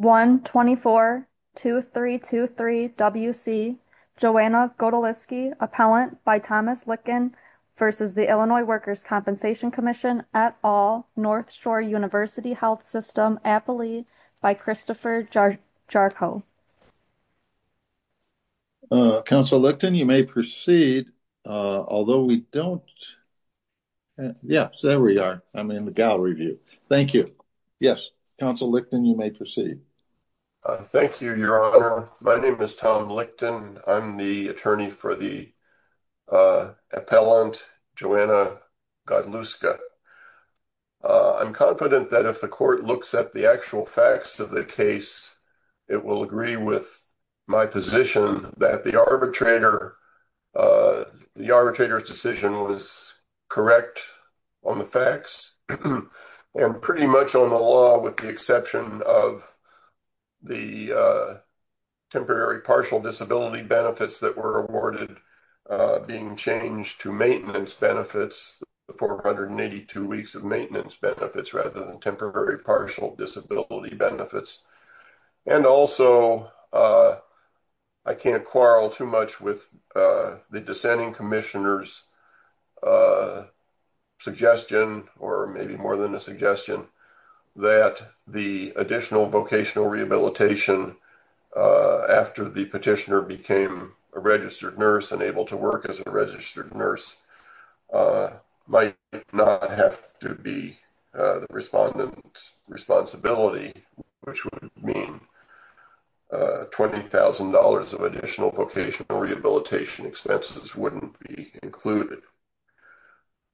1-24-2323 WC Joanna Godlewska, appellant by Thomas Lickton v. Illinois Workers' Compensation Comm'n et al., North Shore University Health System, Appalee, by Christopher Jarko. Council Licton, you may proceed, although we don't, yes, there we are, I'm in the gallery view. Thank you. Yes, Council Licton, you may proceed. Thank you, Your Honor. My name is Tom Licton. I'm the attorney for the appellant, Joanna Godlewska. I'm confident that if the court looks at the actual facts of the case, it will agree with my position that the arbitrator, the arbitrator's decision was correct on the facts, and pretty much on the law with the exception of the temporary partial disability benefits that were awarded being changed to maintenance benefits, the 482 weeks of maintenance benefits rather than temporary partial disability benefits. And also, I can't quarrel too much with the dissenting Commissioner's suggestion, or maybe more than a suggestion, that the additional vocational rehabilitation after the petitioner became a registered nurse and able to work as a registered nurse might not have to be the respondent's responsibility, which would mean $20,000 of additional vocational rehabilitation expenses wouldn't be included.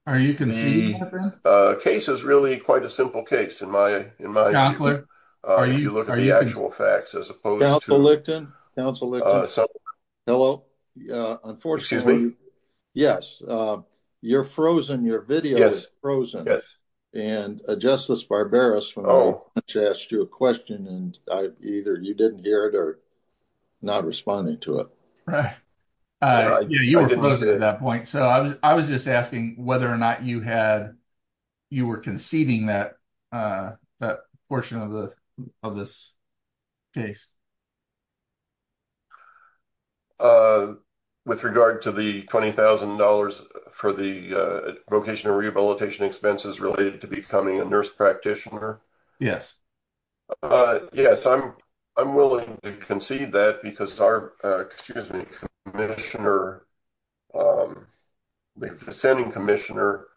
The case is really quite a simple case in my mind. If you look at the actual facts, as opposed to... Council Licton? Hello? Excuse me? Yes, you're frozen. Your video is frozen. Yes. And Justice Barberos asked you a question, and either you didn't hear it or not responding to it. Right. You were frozen at that point, so I was just asking whether or not you were conceding that portion of this case. With regard to the $20,000 for the vocational rehabilitation expenses related to becoming a practitioner? Yes. Yes, I'm willing to concede that because our, excuse me, the dissenting Commissioner,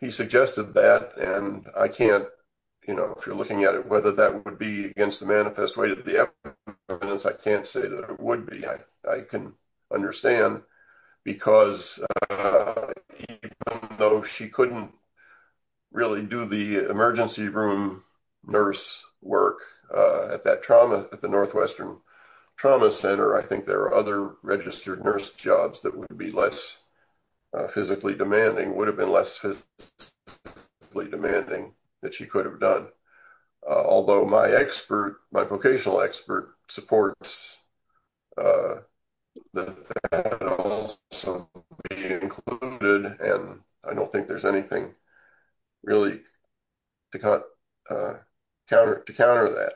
he suggested that, and I can't, you know, if you're looking at it, whether that would be against the manifest way to the evidence, I can't say that it would be. I can understand because though she couldn't really do the emergency room nurse work at that trauma at the Northwestern Trauma Center, I think there are other registered nurse jobs that would be less physically demanding, would have been less physically demanding that she could have done. Although my expert, my vocational expert supports included, and I don't think there's anything really to counter that.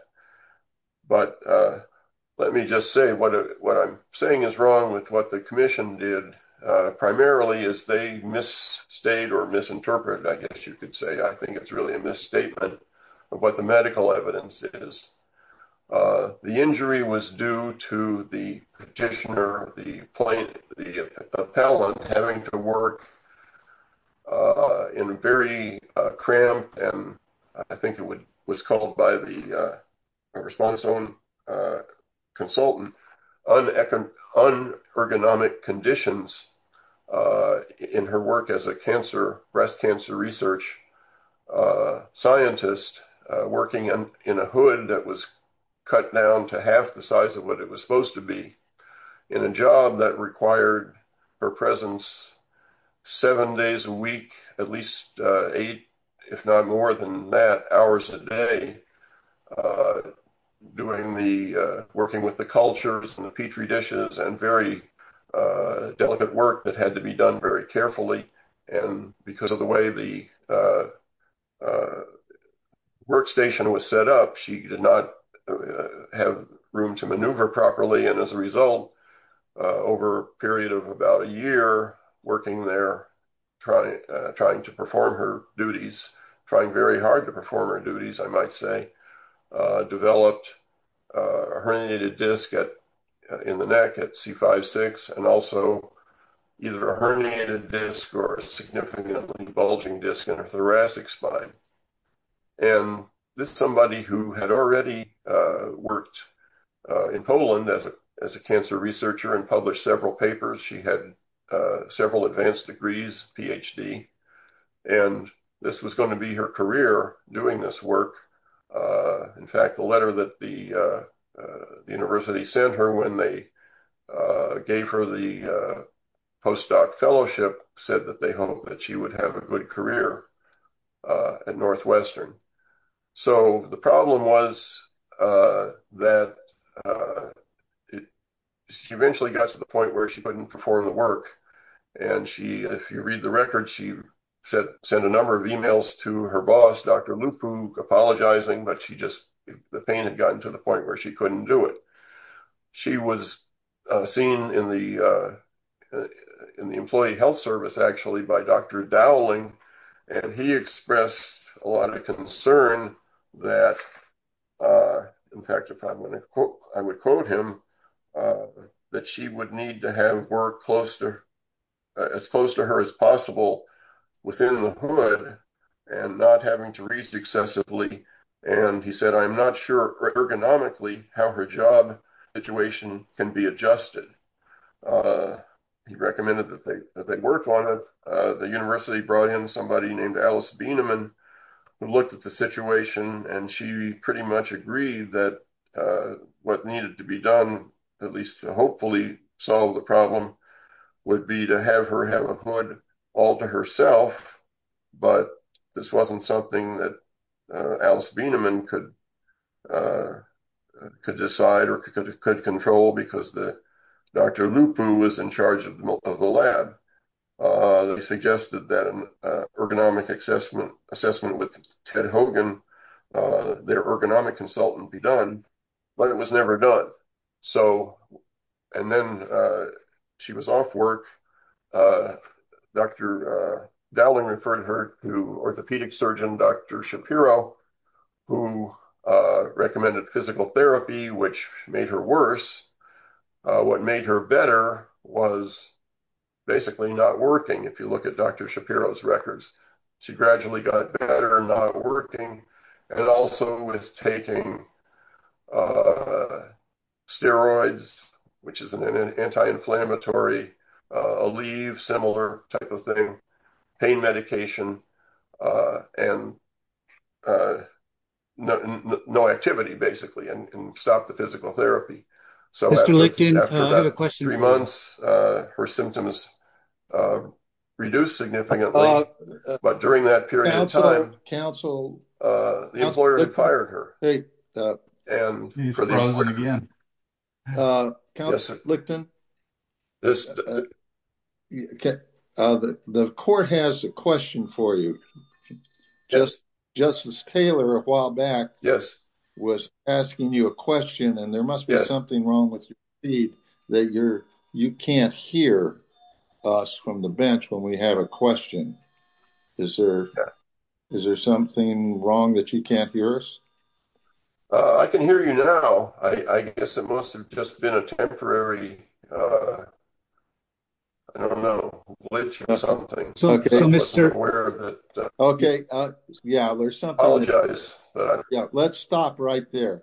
But let me just say what I'm saying is wrong with what the Commission did primarily is they misstated or misinterpreted. I think it's really a misstatement of what the medical evidence is. The injury was due to the practitioner, the plaintiff, the appellant having to work in a very cramped and I think it would was called by the response on consultant on economic conditions in her work as a cancer, breast cancer research scientist working in a hood that was cut down to half the size of what it was supposed to be in a job that required her presence seven days a week, at least eight, if not more than that hours a day doing the working with the cultures and the petri dishes and very delicate work that had to be done very carefully. And because of the way the workstation was set up, she did not have room to maneuver properly. And as a result, over a period of about a year, working there, trying to perform her duties, trying very hard to perform her duties, I might say, developed a herniated disc in the neck at C5-6 and also either a herniated disc or a significantly bulging disc in her thoracic spine. And this is somebody who had already worked in Poland as a cancer researcher and published several papers. She had several advanced degrees, PhD, and this was going to be her career doing this work. In fact, the letter that the university sent her when they gave her the postdoc fellowship said that they hope that she would have a good career at Northwestern. So the problem was that she eventually got to the point where she couldn't perform the work. And she, if you read the record, she sent a number of emails to her boss, Dr. Lupu, apologizing, but she just, the pain had gotten to the point where she couldn't do it. She was seen in the employee health service actually by Dr. Dowling, and he expressed a lot of concern that, in fact, if I'm going to quote, I would quote him, that she would need to have work close to, as close to her as possible within the hood and not having to reach excessively. And he said, I'm not sure ergonomically how her job situation can be adjusted. He recommended that they worked on it. The university brought in Alice Bienemann, who looked at the situation and she pretty much agreed that what needed to be done at least to hopefully solve the problem would be to have her have a hood all to herself. But this wasn't something that Alice Bienemann could decide or could control because Dr. Lupu was in charge of the lab. They suggested that an ergonomic assessment with Ted Hogan, their ergonomic consultant be done, but it was never done. So, and then she was off work. Dr. Dowling referred her to orthopedic surgeon, Dr. Shapiro, who recommended physical therapy, which made her worse. What made her better was basically not working. If you look at Dr. Shapiro's records, she gradually got better and not working. And also with taking steroids, which is an anti-inflammatory, a leave similar type of thing, pain medication, and no activity basically, and stopped the physical therapy. So after about three months, her symptoms reduced significantly, but during that period of time, the employer had fired her. And again, the court has a question for you. Justice Taylor a while back was asking you a question and there must be something wrong with your feed that you can't hear us from the bench when we have a is there, is there something wrong that you can't hear us? I can hear you now. I guess it must've just been a temporary, I don't know, glitch or something. Okay. Let's stop right there.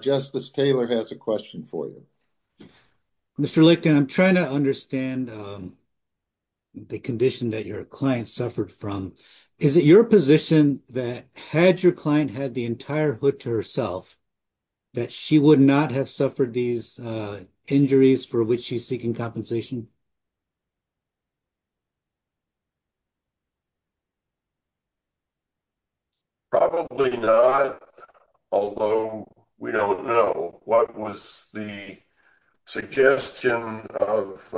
Justice Taylor has a question for you. Mr. Lickton, I'm trying to understand the condition that your client suffered from. Is it your position that had your client had the entire hood to herself, that she would not have suffered these injuries for which she's seeking compensation? Probably not. Although we don't know what was the suggestion of,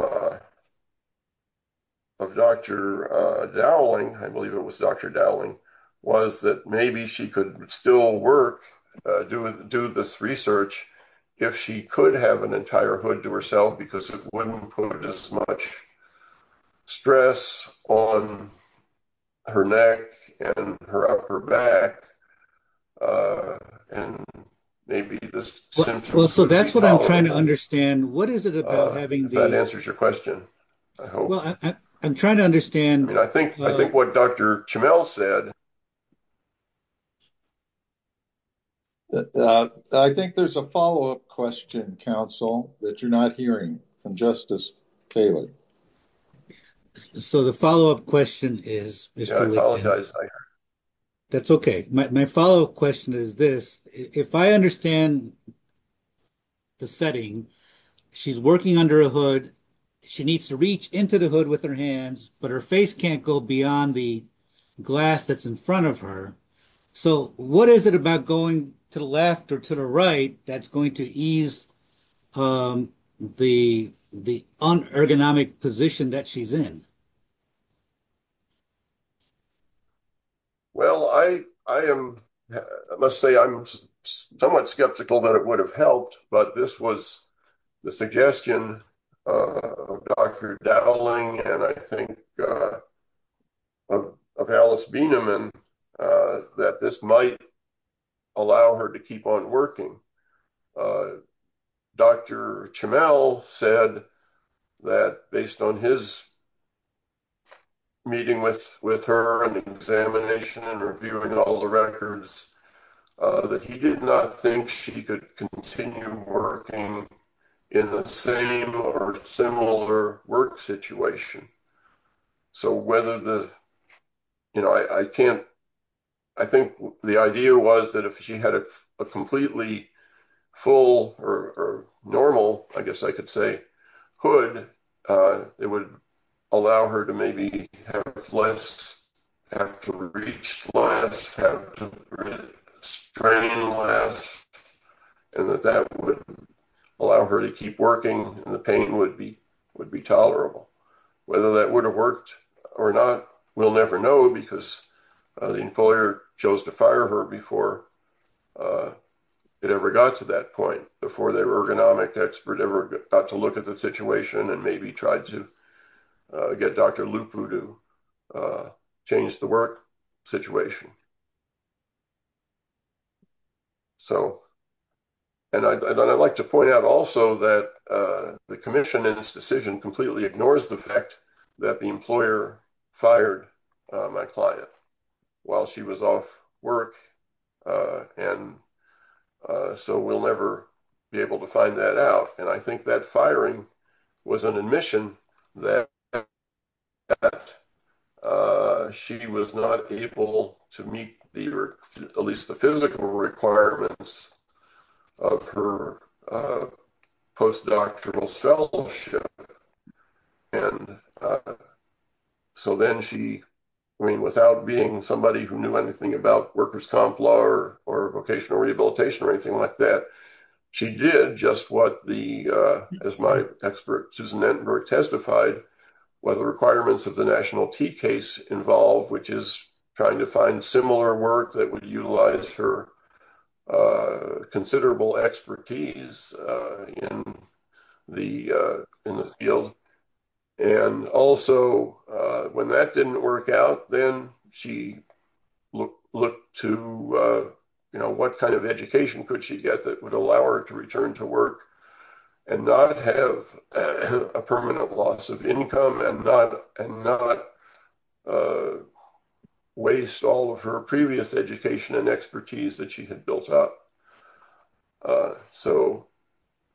of Dr. Dowling, I believe it was Dr. Dowling was that maybe she could still work, do this research if she could have an entire hood to herself, because it wouldn't put as much stress on her neck and her upper back. And maybe this. Well, so that's what I'm trying to understand. What is it about having that answers your question? I'm trying to understand. I think, I think what Dr. Chamel said. I think there's a follow-up question, counsel, that you're not hearing from Justice Taylor. So the follow-up question is. I apologize. That's okay. My follow-up question is this. If I understand the setting, she's working under a she needs to reach into the hood with her hands, but her face can't go beyond the glass that's in front of her. So what is it about going to the left or to the right? That's going to ease the, the ergonomic position that she's in. Well, I, I am, let's say I'm somewhat skeptical that it would have helped, but this was the suggestion of Dr. Dowling. And I think of Alice Beneman that this might allow her to keep on working. Dr. Chamel said that based on his meeting with, with her and examination and reviewing all the records that he did not think she could continue working in the same or similar work situation. So whether the, you know, I, I can't, I think the idea was that if she had a completely full or normal, I guess I could say hood, it would allow her to maybe have less have to reach last strain last, and that that would allow her to keep working. The pain would be, would be tolerable, whether that would have worked or not. We'll never know because the employer chose to fire her before it ever got to that point before their ergonomic expert ever got to look at the situation and maybe tried to get Dr. Lupu to change the work situation. So, and I'd like to point out also that the commission in this decision completely ignores the fact that the employer fired my client while she was off work. And so we'll never be able to find that out. And I think that firing was an admission that she was not able to meet the, or at least the physical requirements of her post-doctoral fellowship. And so then she, I mean, without being somebody who knew anything about workers' comp law or vocational rehabilitation or anything like that, she did just what the, as my expert, Susan Nettenberg testified, what the requirements of the national T case involve, which is trying to find similar work that would utilize her considerable expertise in the field. And also when that didn't work out, then she looked to, you know, what kind of education could she get that would allow her to return to work and not have a permanent loss of income and not waste all of her previous education and expertise that she had built up. So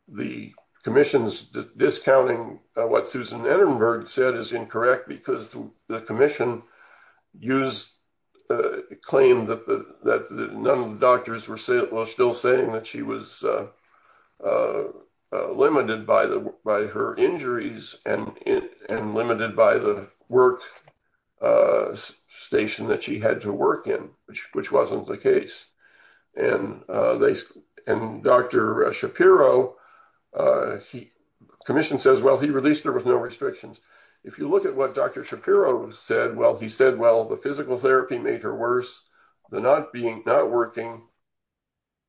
the commission's discounting what Susan Nettenberg said is incorrect because the commission used a claim that none of the doctors were still saying that she was limited by her injuries and limited by the work station that she had to work in, which wasn't the case. And Dr. Shapiro, a commission says, well, he released her with no restrictions. If you look at what Dr. Shapiro said, well, he said, well, the physical therapy made her worse than not being not working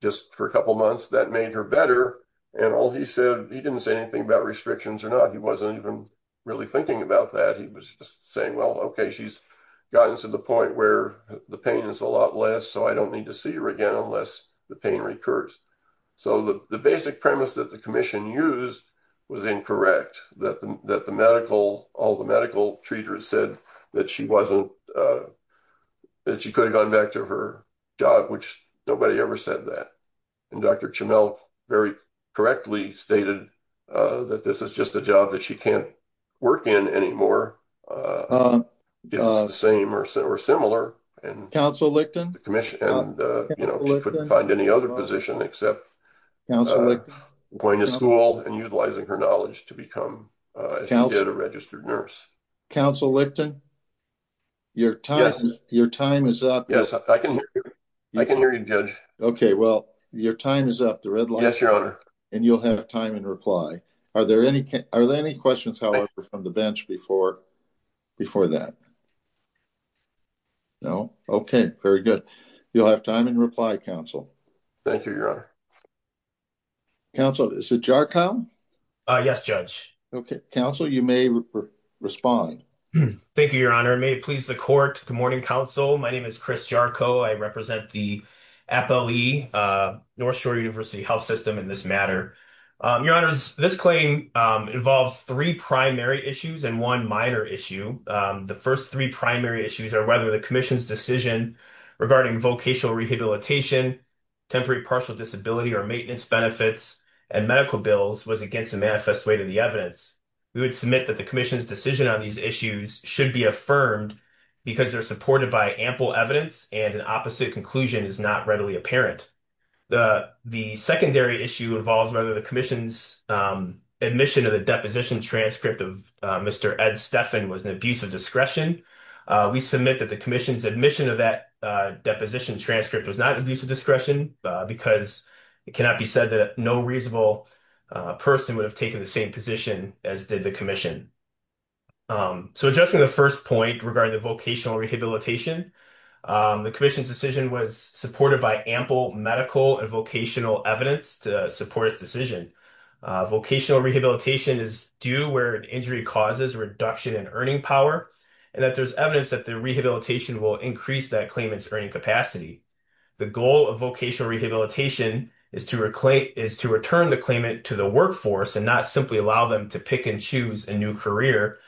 just for a couple of months that made her better. And all he said, he didn't say anything about restrictions or not. He wasn't even really thinking about that. He was just saying, well, okay, she's gotten to the point where the pain is a lot less. So I don't need to see her again, unless the pain recurs. So the basic premise that the commission used was incorrect, that the medical, all the medical treaters said that she wasn't, that she could have gone back to her job, which nobody ever said that. And Dr. Chamel very correctly stated that this is just a job that she can't work in anymore. It's the same or similar and the commission couldn't find any other position except going to school and utilizing her knowledge to become a registered nurse. Counsel Licton, your time is up. Yes, I can hear you good. Okay. Well, your time is up and you'll have time and reply. Are there any, are there any questions, however, from the bench before, before that? No. Okay. Very good. You'll have time and reply counsel. Thank you. Your counsel is a jar. Yes, judge. Okay. Counsel, you may respond. Thank you, your honor. May it please the court. Good morning. Counsel. My name is Chris Jarko. I represent the Apple, uh, North shore university health system in this matter. Um, your honors, this claim, um, involves three primary issues and one minor issue. Um, the first three primary issues are whether the commission's decision regarding vocational rehabilitation, temporary partial disability or maintenance benefits and medical bills was against the manifest way to the evidence. We would submit that the commission's decision on these issues should be affirmed because they're supported by ample evidence and an opposite conclusion is not readily apparent. The, the secondary issue involves whether the commission's, um, admission of the deposition transcript of, uh, Mr. Ed Stefan was an abuse of discretion. Uh, we submit that the commission's admission of that, uh, deposition transcript was not abusive discretion, uh, because it cannot be that no reasonable, uh, person would have taken the same position as did the commission. Um, so adjusting the first point regarding the vocational rehabilitation, um, the commission's decision was supported by ample medical and vocational evidence to support his decision. Uh, vocational rehabilitation is due where an injury causes reduction in earning power and that there's evidence that the rehabilitation will increase that claim. It's earning capacity. The goal of rehabilitation is to reclaim, is to return the claimant to the workforce and not simply allow them to pick and choose a new career.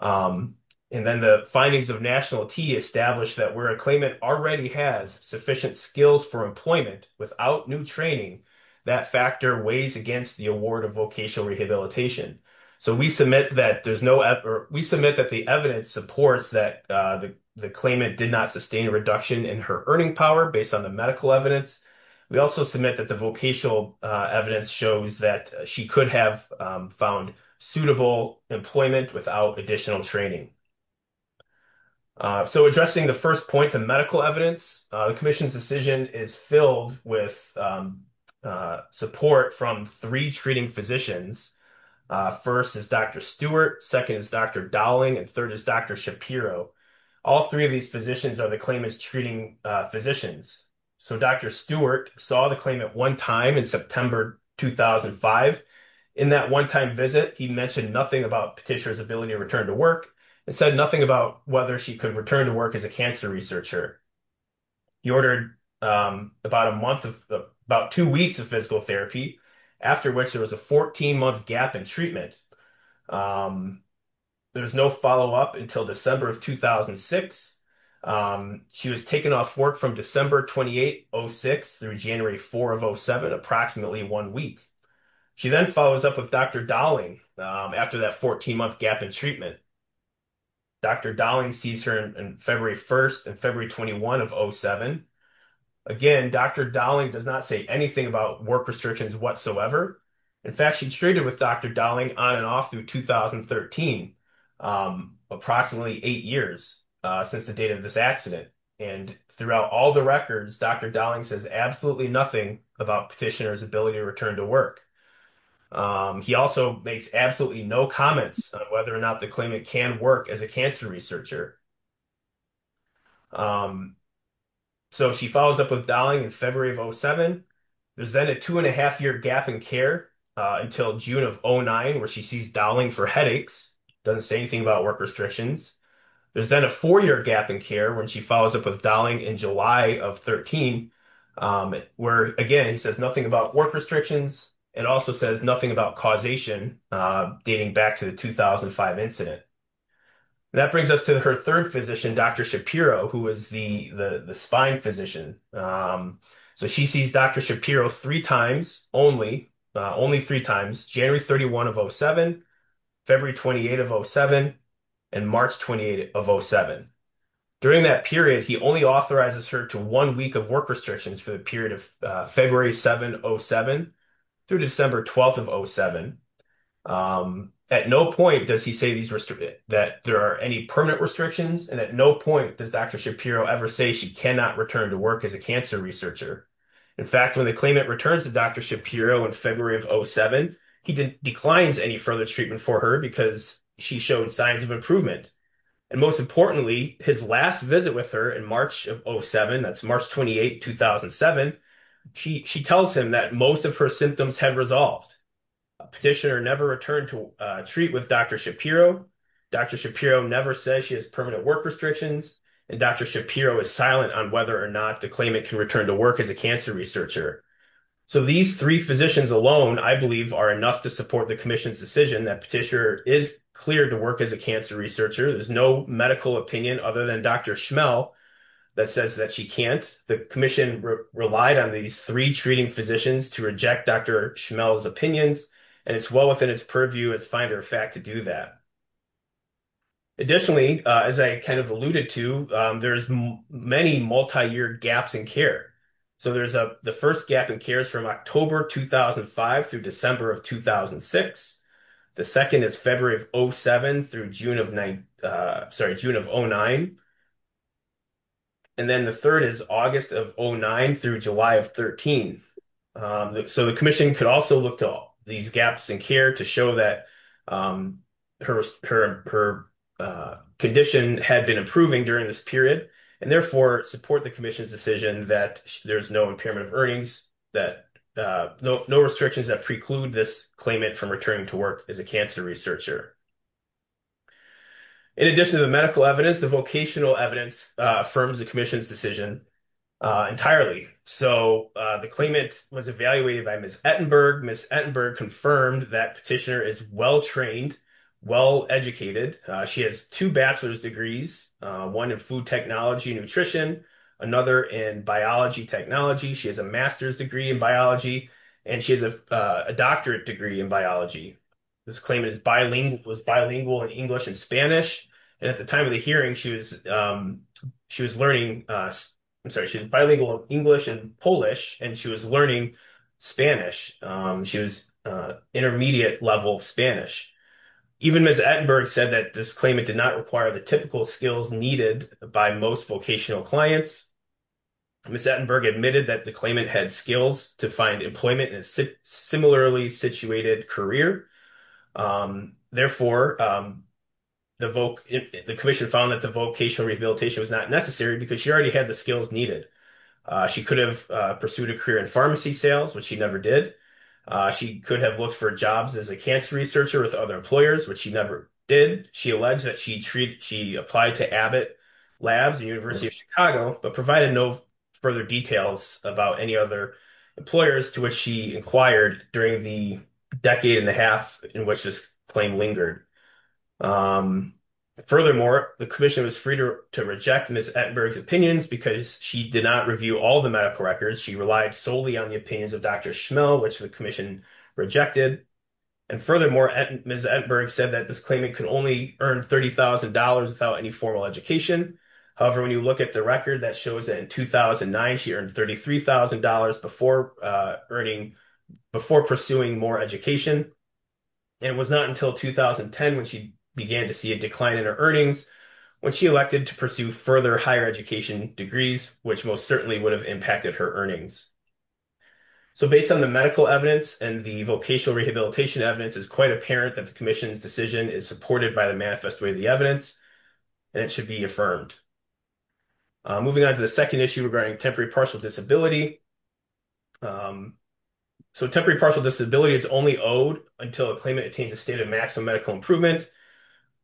Um, and then the findings of national T established that where a claimant already has sufficient skills for employment without new training, that factor weighs against the award of vocational rehabilitation. So we submit that there's no effort. We submit that the evidence supports that, uh, the, the claimant did not sustain a reduction in her earning power based on the medical evidence. We also submit that the vocational, uh, evidence shows that she could have, um, found suitable employment without additional training. Uh, so addressing the first point, the medical evidence, uh, the commission's decision is filled with, um, uh, support from three treating physicians. Uh, first is Dr. Stewart. Second is Dr. Dowling and third is Dr. Shapiro. All three of these physicians are the claim is treating, uh, physicians. So Dr. Stewart saw the claim at one time in September, 2005. In that one-time visit, he mentioned nothing about Patricia's ability to return to work and said nothing about whether she could return to work as a cancer researcher. He ordered, um, about a month of, about two weeks of physical therapy, after which there was a 14 month gap in treatment. Um, there was no follow-up until December of 2006. Um, she was taken off work from December 28, 06 through January 4 of 07, approximately one week. She then follows up with Dr. Dowling, um, after that 14 month gap in treatment. Dr. Dowling sees her in February 1st and February 21 of 07. Again, Dr. Dowling does not say anything about work restrictions whatsoever. In fact, she'd traded with Dr. Dowling on and off through 2013, um, approximately eight years, uh, since the date of this accident. And throughout all the records, Dr. Dowling says absolutely nothing about petitioner's ability to return to work. Um, he also makes absolutely no comments on whether or not the claimant can work as a cancer researcher. Um, so she follows up with Dowling in February of 07. There's then a two and a half year gap care, uh, until June of 09, where she sees Dowling for headaches. Doesn't say anything about work restrictions. There's then a four year gap in care when she follows up with Dowling in July of 13. Um, where again, he says nothing about work restrictions and also says nothing about causation, uh, dating back to the 2005 incident. And that brings us to her third physician, Dr. Shapiro, who was the, the, the spine physician. Um, so she sees Dr. Shapiro three times only, uh, only three times January 31 of 07, February 28 of 07 and March 28 of 07. During that period, he only authorizes her to one week of work restrictions for the period of, uh, February 7 07 through December 12th of 07. Um, at no point does he say these restricted, that there are any restrictions. And at no point does Dr. Shapiro ever say she cannot return to work as a cancer researcher. In fact, when the claimant returns to Dr. Shapiro in February of 07, he didn't declines any further treatment for her because she showed signs of improvement. And most importantly, his last visit with her in March of 07, that's March 28, 2007. She, she tells him that most of her symptoms had resolved. Petitioner never returned to treat with Dr. Shapiro. Dr. Shapiro never says she has permanent work restrictions and Dr. Shapiro is silent on whether or not the claimant can return to work as a cancer researcher. So these three physicians alone, I believe are enough to support the commission's decision that petitioner is cleared to work as a cancer researcher. There's no medical opinion other than Dr. Schmell that says that she can't, the commission relied on these three treating physicians to reject Dr. Schmell's opinions. And it's well within its purview as finder of fact to do that. Additionally, as I kind of alluded to, there's many multi-year gaps in care. So there's a, the first gap in care is from October 2005 through December of 2006. The second is February of 07 through June of 9, sorry, June of 09. And then the third is August of 09 through July of 13. So the commission could also look to all these gaps in care to show that her condition had been improving during this period and therefore support the commission's decision that there's no impairment of earnings, that no restrictions that preclude this claimant from returning to work as a cancer researcher. In addition to the medical evidence, the vocational evidence affirms the commission's decision entirely. So the claimant was evaluated by Ms. Ettenberg. Ms. Ettenberg confirmed that petitioner is well-trained, well-educated. She has two bachelor's degrees, one in food technology and nutrition, another in biology technology. She has a master's degree in biology and she has a doctorate degree in biology. This claimant was bilingual in English and Spanish. And at the time of the hearing, she was learning, I'm sorry, she's bilingual English and Polish and she was learning Spanish. She was intermediate level Spanish. Even Ms. Ettenberg said that this claimant did not require the typical skills needed by most vocational clients. Ms. Ettenberg admitted that the claimant had skills to find employment in a similarly situated career. Therefore, the commission found that the vocational rehabilitation was not necessary because she already had the skills needed. She could have pursued a career in pharmacy sales, which she never did. She could have looked for jobs as a cancer researcher with other employers, which she never did. She alleged that she applied to Abbott Labs and University of Chicago, but provided no further details about any other employers to which she inquired during the decade and a half in which this claim lingered. Furthermore, the commission was free to reject Ms. Ettenberg's opinions because she did not review all the medical records. She relied solely on the opinions of Dr. Schmill, which the commission rejected. And furthermore, Ms. Ettenberg said that this claimant could only earn $30,000 without any formal education. However, when you look at the record, that shows that in 2009, she earned $33,000 before pursuing more education. And it was not until 2010 when she began to see a decline in her earnings when she elected to pursue further higher education degrees, which most certainly would have impacted her earnings. So, based on the medical evidence and the vocational rehabilitation evidence, it's quite apparent that the commission's decision is supported by the manifest way of the evidence, and it should be affirmed. Moving on to the second issue regarding temporary partial disability. So, temporary partial disability is only owed until the claimant attains a state of maximum medical improvement.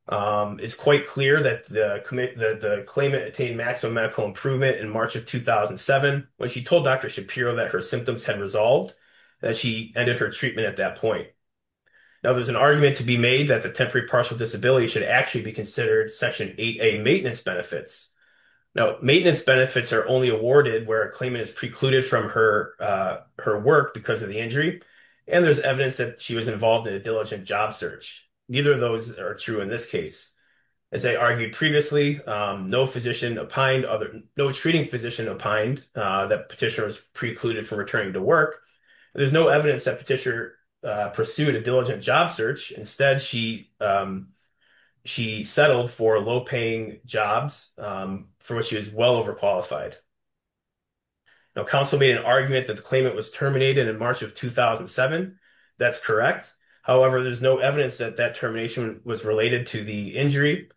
It's quite clear that the claimant attained maximum medical improvement in March of 2007 when she told Dr. Shapiro that her symptoms had resolved, that she ended her treatment at that point. Now, there's an argument to be made that the temporary partial disability should actually be considered Section 8A maintenance benefits. Now, maintenance benefits are only awarded where a claimant is precluded from her work because of the injury, and there's evidence that she was involved in a diligent job search. Neither of those are true in this case. As I argued previously, no treating physician opined that Petitia was precluded from returning to work. There's no evidence that Petitia pursued a diligent job search. Instead, she settled for low-paying jobs for which she was well overqualified. Now, counsel made an argument that the claimant was terminated in March of 2007. That's correct. However, there's no evidence that that termination was related to the injury.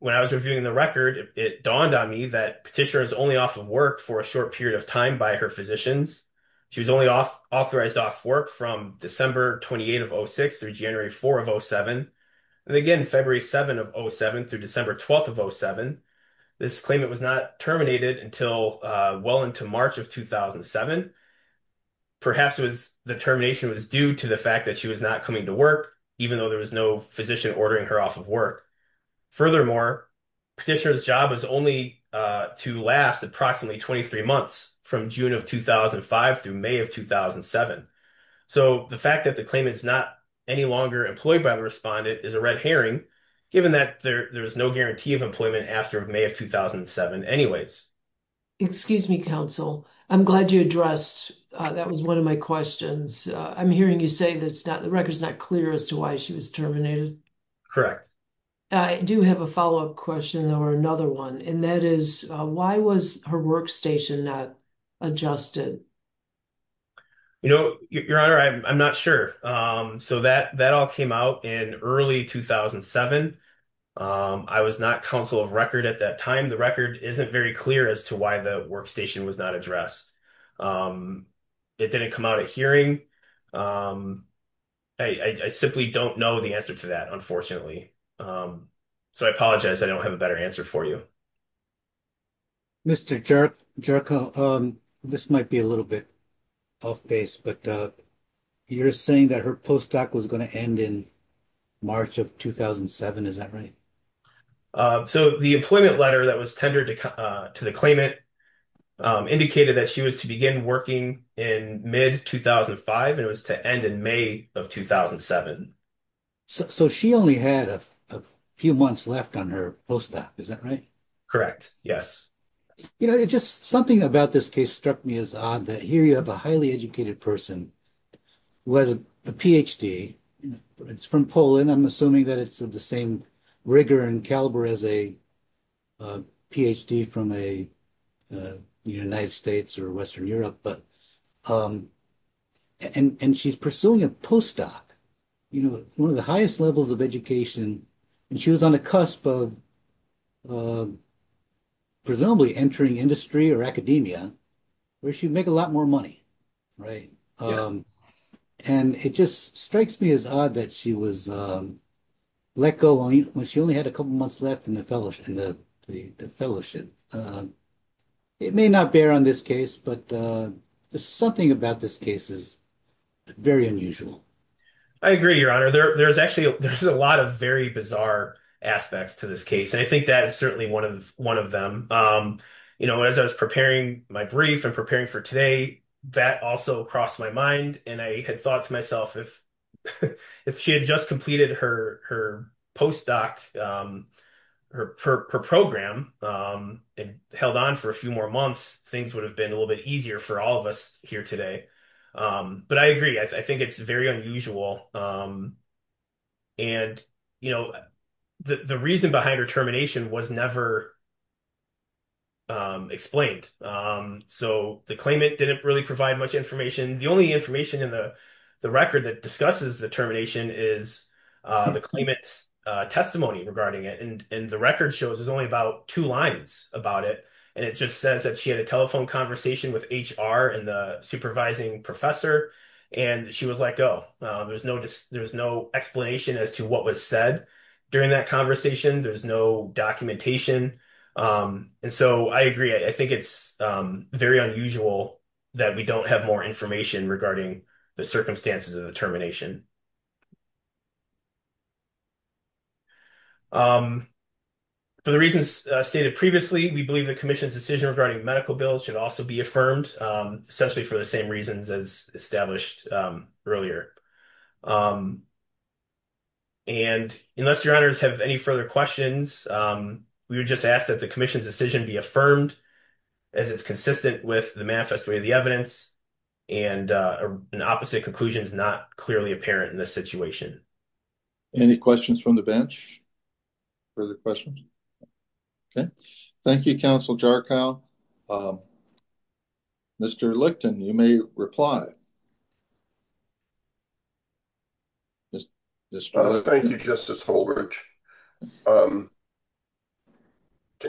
When I was reviewing the record, it dawned on me that Petitia was only off of work for a short period of time by her physicians. She was only authorized off work from December 28 of 06 through January 4 of 07, and again February 7 of 07 through December 12 of 07. This claimant was not terminated until well into March of 2007. Perhaps the termination was due to the fact that she was not coming to work, even though there was no physician ordering her off of work. Furthermore, Petitia's job is only to last approximately 23 months from June of 2005 through May of 2007. So, the fact that the claimant is not any longer employed by the respondent is a red herring, given that there is no guarantee of employment after May of 2007 anyways. Excuse me, counsel. I'm glad you addressed. That was one of my questions. I'm hearing you say that the record is not clear as to why she was terminated. Correct. I do have a follow-up question or another one, and that is why was her workstation not adjusted? You know, your honor, I'm not sure. So, that all came out in early 2007. I was not counsel of record at that time. The record isn't very clear as to why the workstation was not addressed. It didn't come out at hearing. I simply don't know the answer to that, unfortunately. So, I apologize. I don't have a better answer for you. Mr. Jerko, this might be a little bit off base, but you're saying that her postdoc was going to end in March of 2007. Is that right? So, the employment letter that was tendered to the claimant indicated that she was to begin working in mid-2005, and it was to end in May of 2007. So, she only had a few months left on her postdoc. Is that right? Correct. Yes. You know, just something about this case struck me as odd that here you have a highly educated person who has a Ph.D. It's from Poland. I'm assuming that it's of the same rigor and caliber as a Ph.D. from the United States or Western Europe, but and she's pursuing a postdoc, you know, one of the highest levels of education, and she was on the cusp of presumably entering industry or academia where she'd make a lot more money, right? And it just strikes me as odd that she was let go when she only had a couple months left in the fellowship. It may not bear on this case, but something about this case is very unusual. I agree, Your Honor. There's actually a lot of very bizarre aspects to this case, and I think that is certainly one of them. You know, as I was preparing my brief and preparing for today, that also crossed my mind, and I had thought to myself if she had just completed her postdoc, her program and held on for a few more months, things would have been a little bit easier for all of us here today, but I agree. I think it's very unusual, and you know, the reason behind her termination was never explained, so the claimant didn't really provide much information. The only information in the record that discusses the termination is the claimant's testimony regarding it, and the record shows there's only about two lines about it, and it just says that she had a telephone conversation with HR and the supervising professor, and she was let go. There was no explanation as to what was said during that conversation. There's no documentation, and so I agree. I think it's very unusual that we don't have more information regarding the circumstances of the termination. For the reasons stated previously, we believe the Commission's decision regarding medical bills should also be affirmed, essentially for the same reasons as established earlier, and unless your honors have any further questions, we would just ask that the Commission's decision be affirmed as it's consistent with the manifest way of the evidence, and an opposite conclusion is not clearly apparent in this situation. Any questions from the bench? Further questions? Okay, thank you, Counsel Jarkau. Mr. Licton, you may reply. Thank you, Justice Holbrook. Can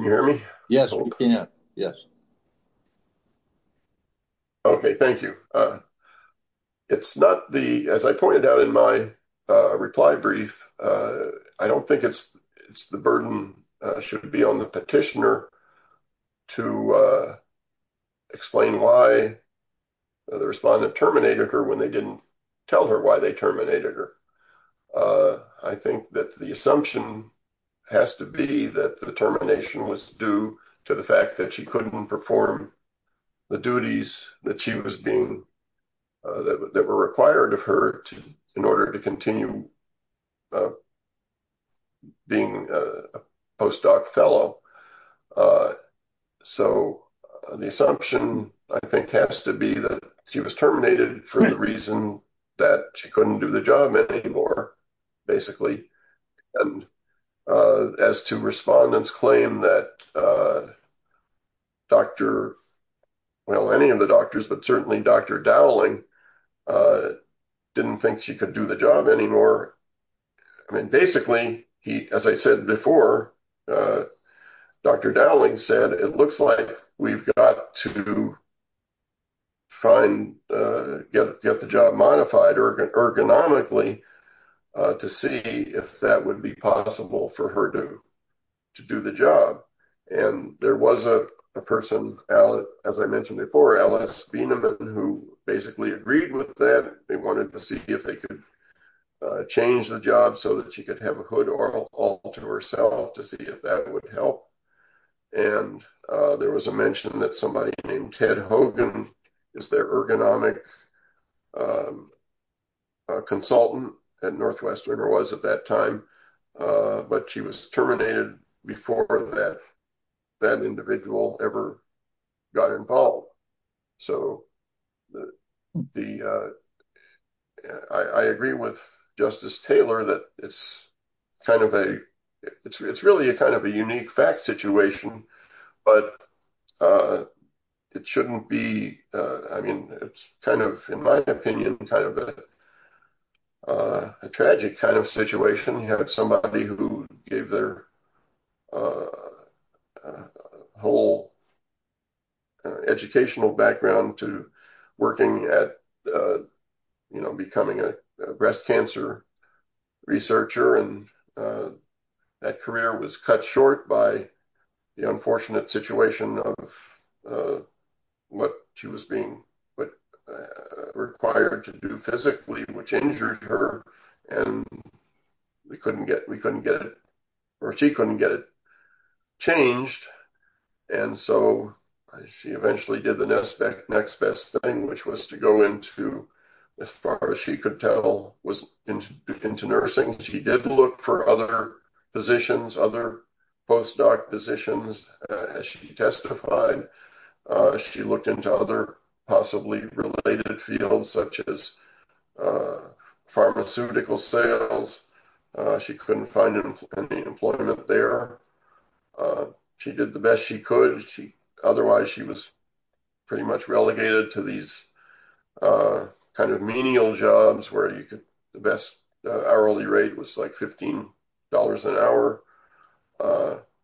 you hear me? Yes, we can, yes. Okay, thank you. It's not the, as I pointed out in my reply brief, I don't think it's the burden should be on the petitioner to explain why the respondent terminated her when they didn't tell her why they terminated her. I think that the assumption has to be that the termination was due to the fact that she couldn't perform the duties that she was being, that were required of her to, in order to continue being a postdoc fellow. So, the assumption, I think, has to be that she was terminated for the reason that she couldn't do the job anymore, basically, and as to respondents claim that Dr., well, any of the doctors, but certainly Dr. Dowling didn't think she could do the job anymore. I mean, basically, he, as I said before, Dr. Dowling said, it looks like we've got to find, get the job modified ergonomically to see if that would be possible for her to do the job. And there was a person, as I mentioned before, Alice, who basically agreed with that. They wanted to see if they could change the job so that she could have a hood all to herself to see if that would help. And there was a mention that somebody named Ted Hogan is their ergonomic consultant at Northwestern, or was at that time, but she was terminated before that that individual ever got involved. So, the, I agree with Justice Taylor that it's kind of a, it's really a kind of a unique fact situation, but it shouldn't be, I mean, it's kind in my opinion, kind of a tragic kind of situation. You have somebody who gave their whole educational background to working at, you know, becoming a breast cancer researcher. And that career was cut short by the unfortunate situation of what she was being required to do physically, which injured her and we couldn't get, we couldn't get it or she couldn't get it changed. And so she eventually did the next best thing, which was to go into as far as she could tell was into nursing. She did look for other positions, other postdoc positions, as she testified. She looked into other possibly related fields, such as pharmaceutical sales. She couldn't find any employment there. She did the best she could. She, otherwise she was pretty much relegated to these kind of menial jobs where you could, the best hourly rate was like $15 an hour,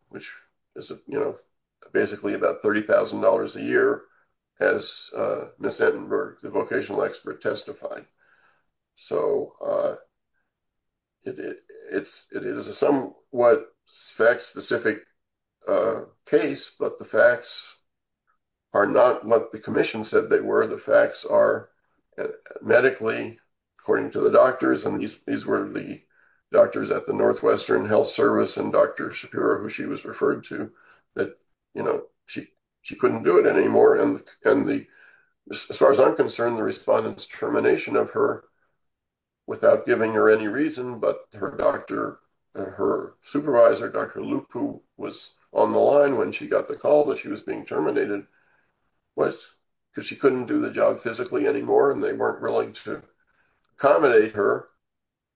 which is, you know, basically about $30,000 a year as Ms. Entenberg, the vocational expert testified. So, it is a somewhat fact specific case, but the facts are not what the commission said they were. The facts are medically, according to the doctors, and these were the doctors at the Northwestern Health Service and Dr. Shapiro, who she was referred to that, you know, she couldn't do it anymore. And the, as far as I'm concerned, the respondents termination of her without giving her any reason, but her doctor, her supervisor, Dr. Luke, who was on the line when she got the call that she was terminated, was because she couldn't do the job physically anymore and they weren't willing to accommodate her,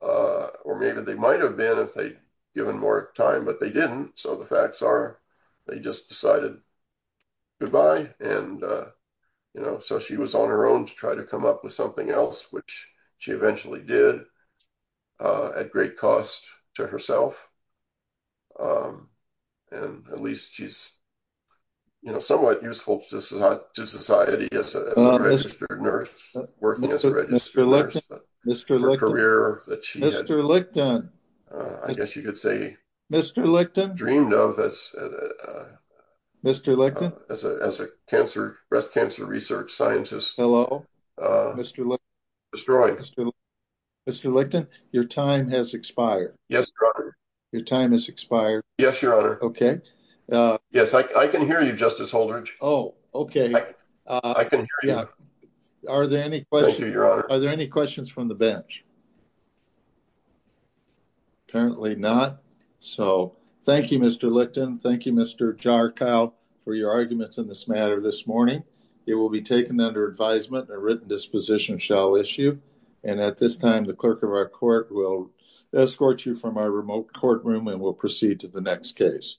or maybe they might've been if they'd given more time, but they didn't. So, the facts are, they just decided goodbye. And, you know, so she was on her own to try to come up with something else, which she eventually did at great cost to herself. And at least she's, you know, somewhat useful to society as a registered nurse, working as a registered nurse. Mr. Licton, Mr. Licton, Mr. Licton, Mr. Licton, Mr. Licton, as a cancer, breast cancer research scientist. Hello, Mr. Licton, Mr. Licton, your time has expired. Yes, your honor. Your time has expired. Yes, your honor. Okay. Yes, I can hear you, Justice Holder. Oh, okay. I can hear you. Are there any questions from the bench? Apparently not. So, thank you, Mr. Licton. Thank you, Mr. Jarkau for your arguments in this matter this morning. It will be taken under advisement and a written disposition shall issue. And at this time, the clerk of our court will escort you from our remote courtroom and we'll proceed to the next case.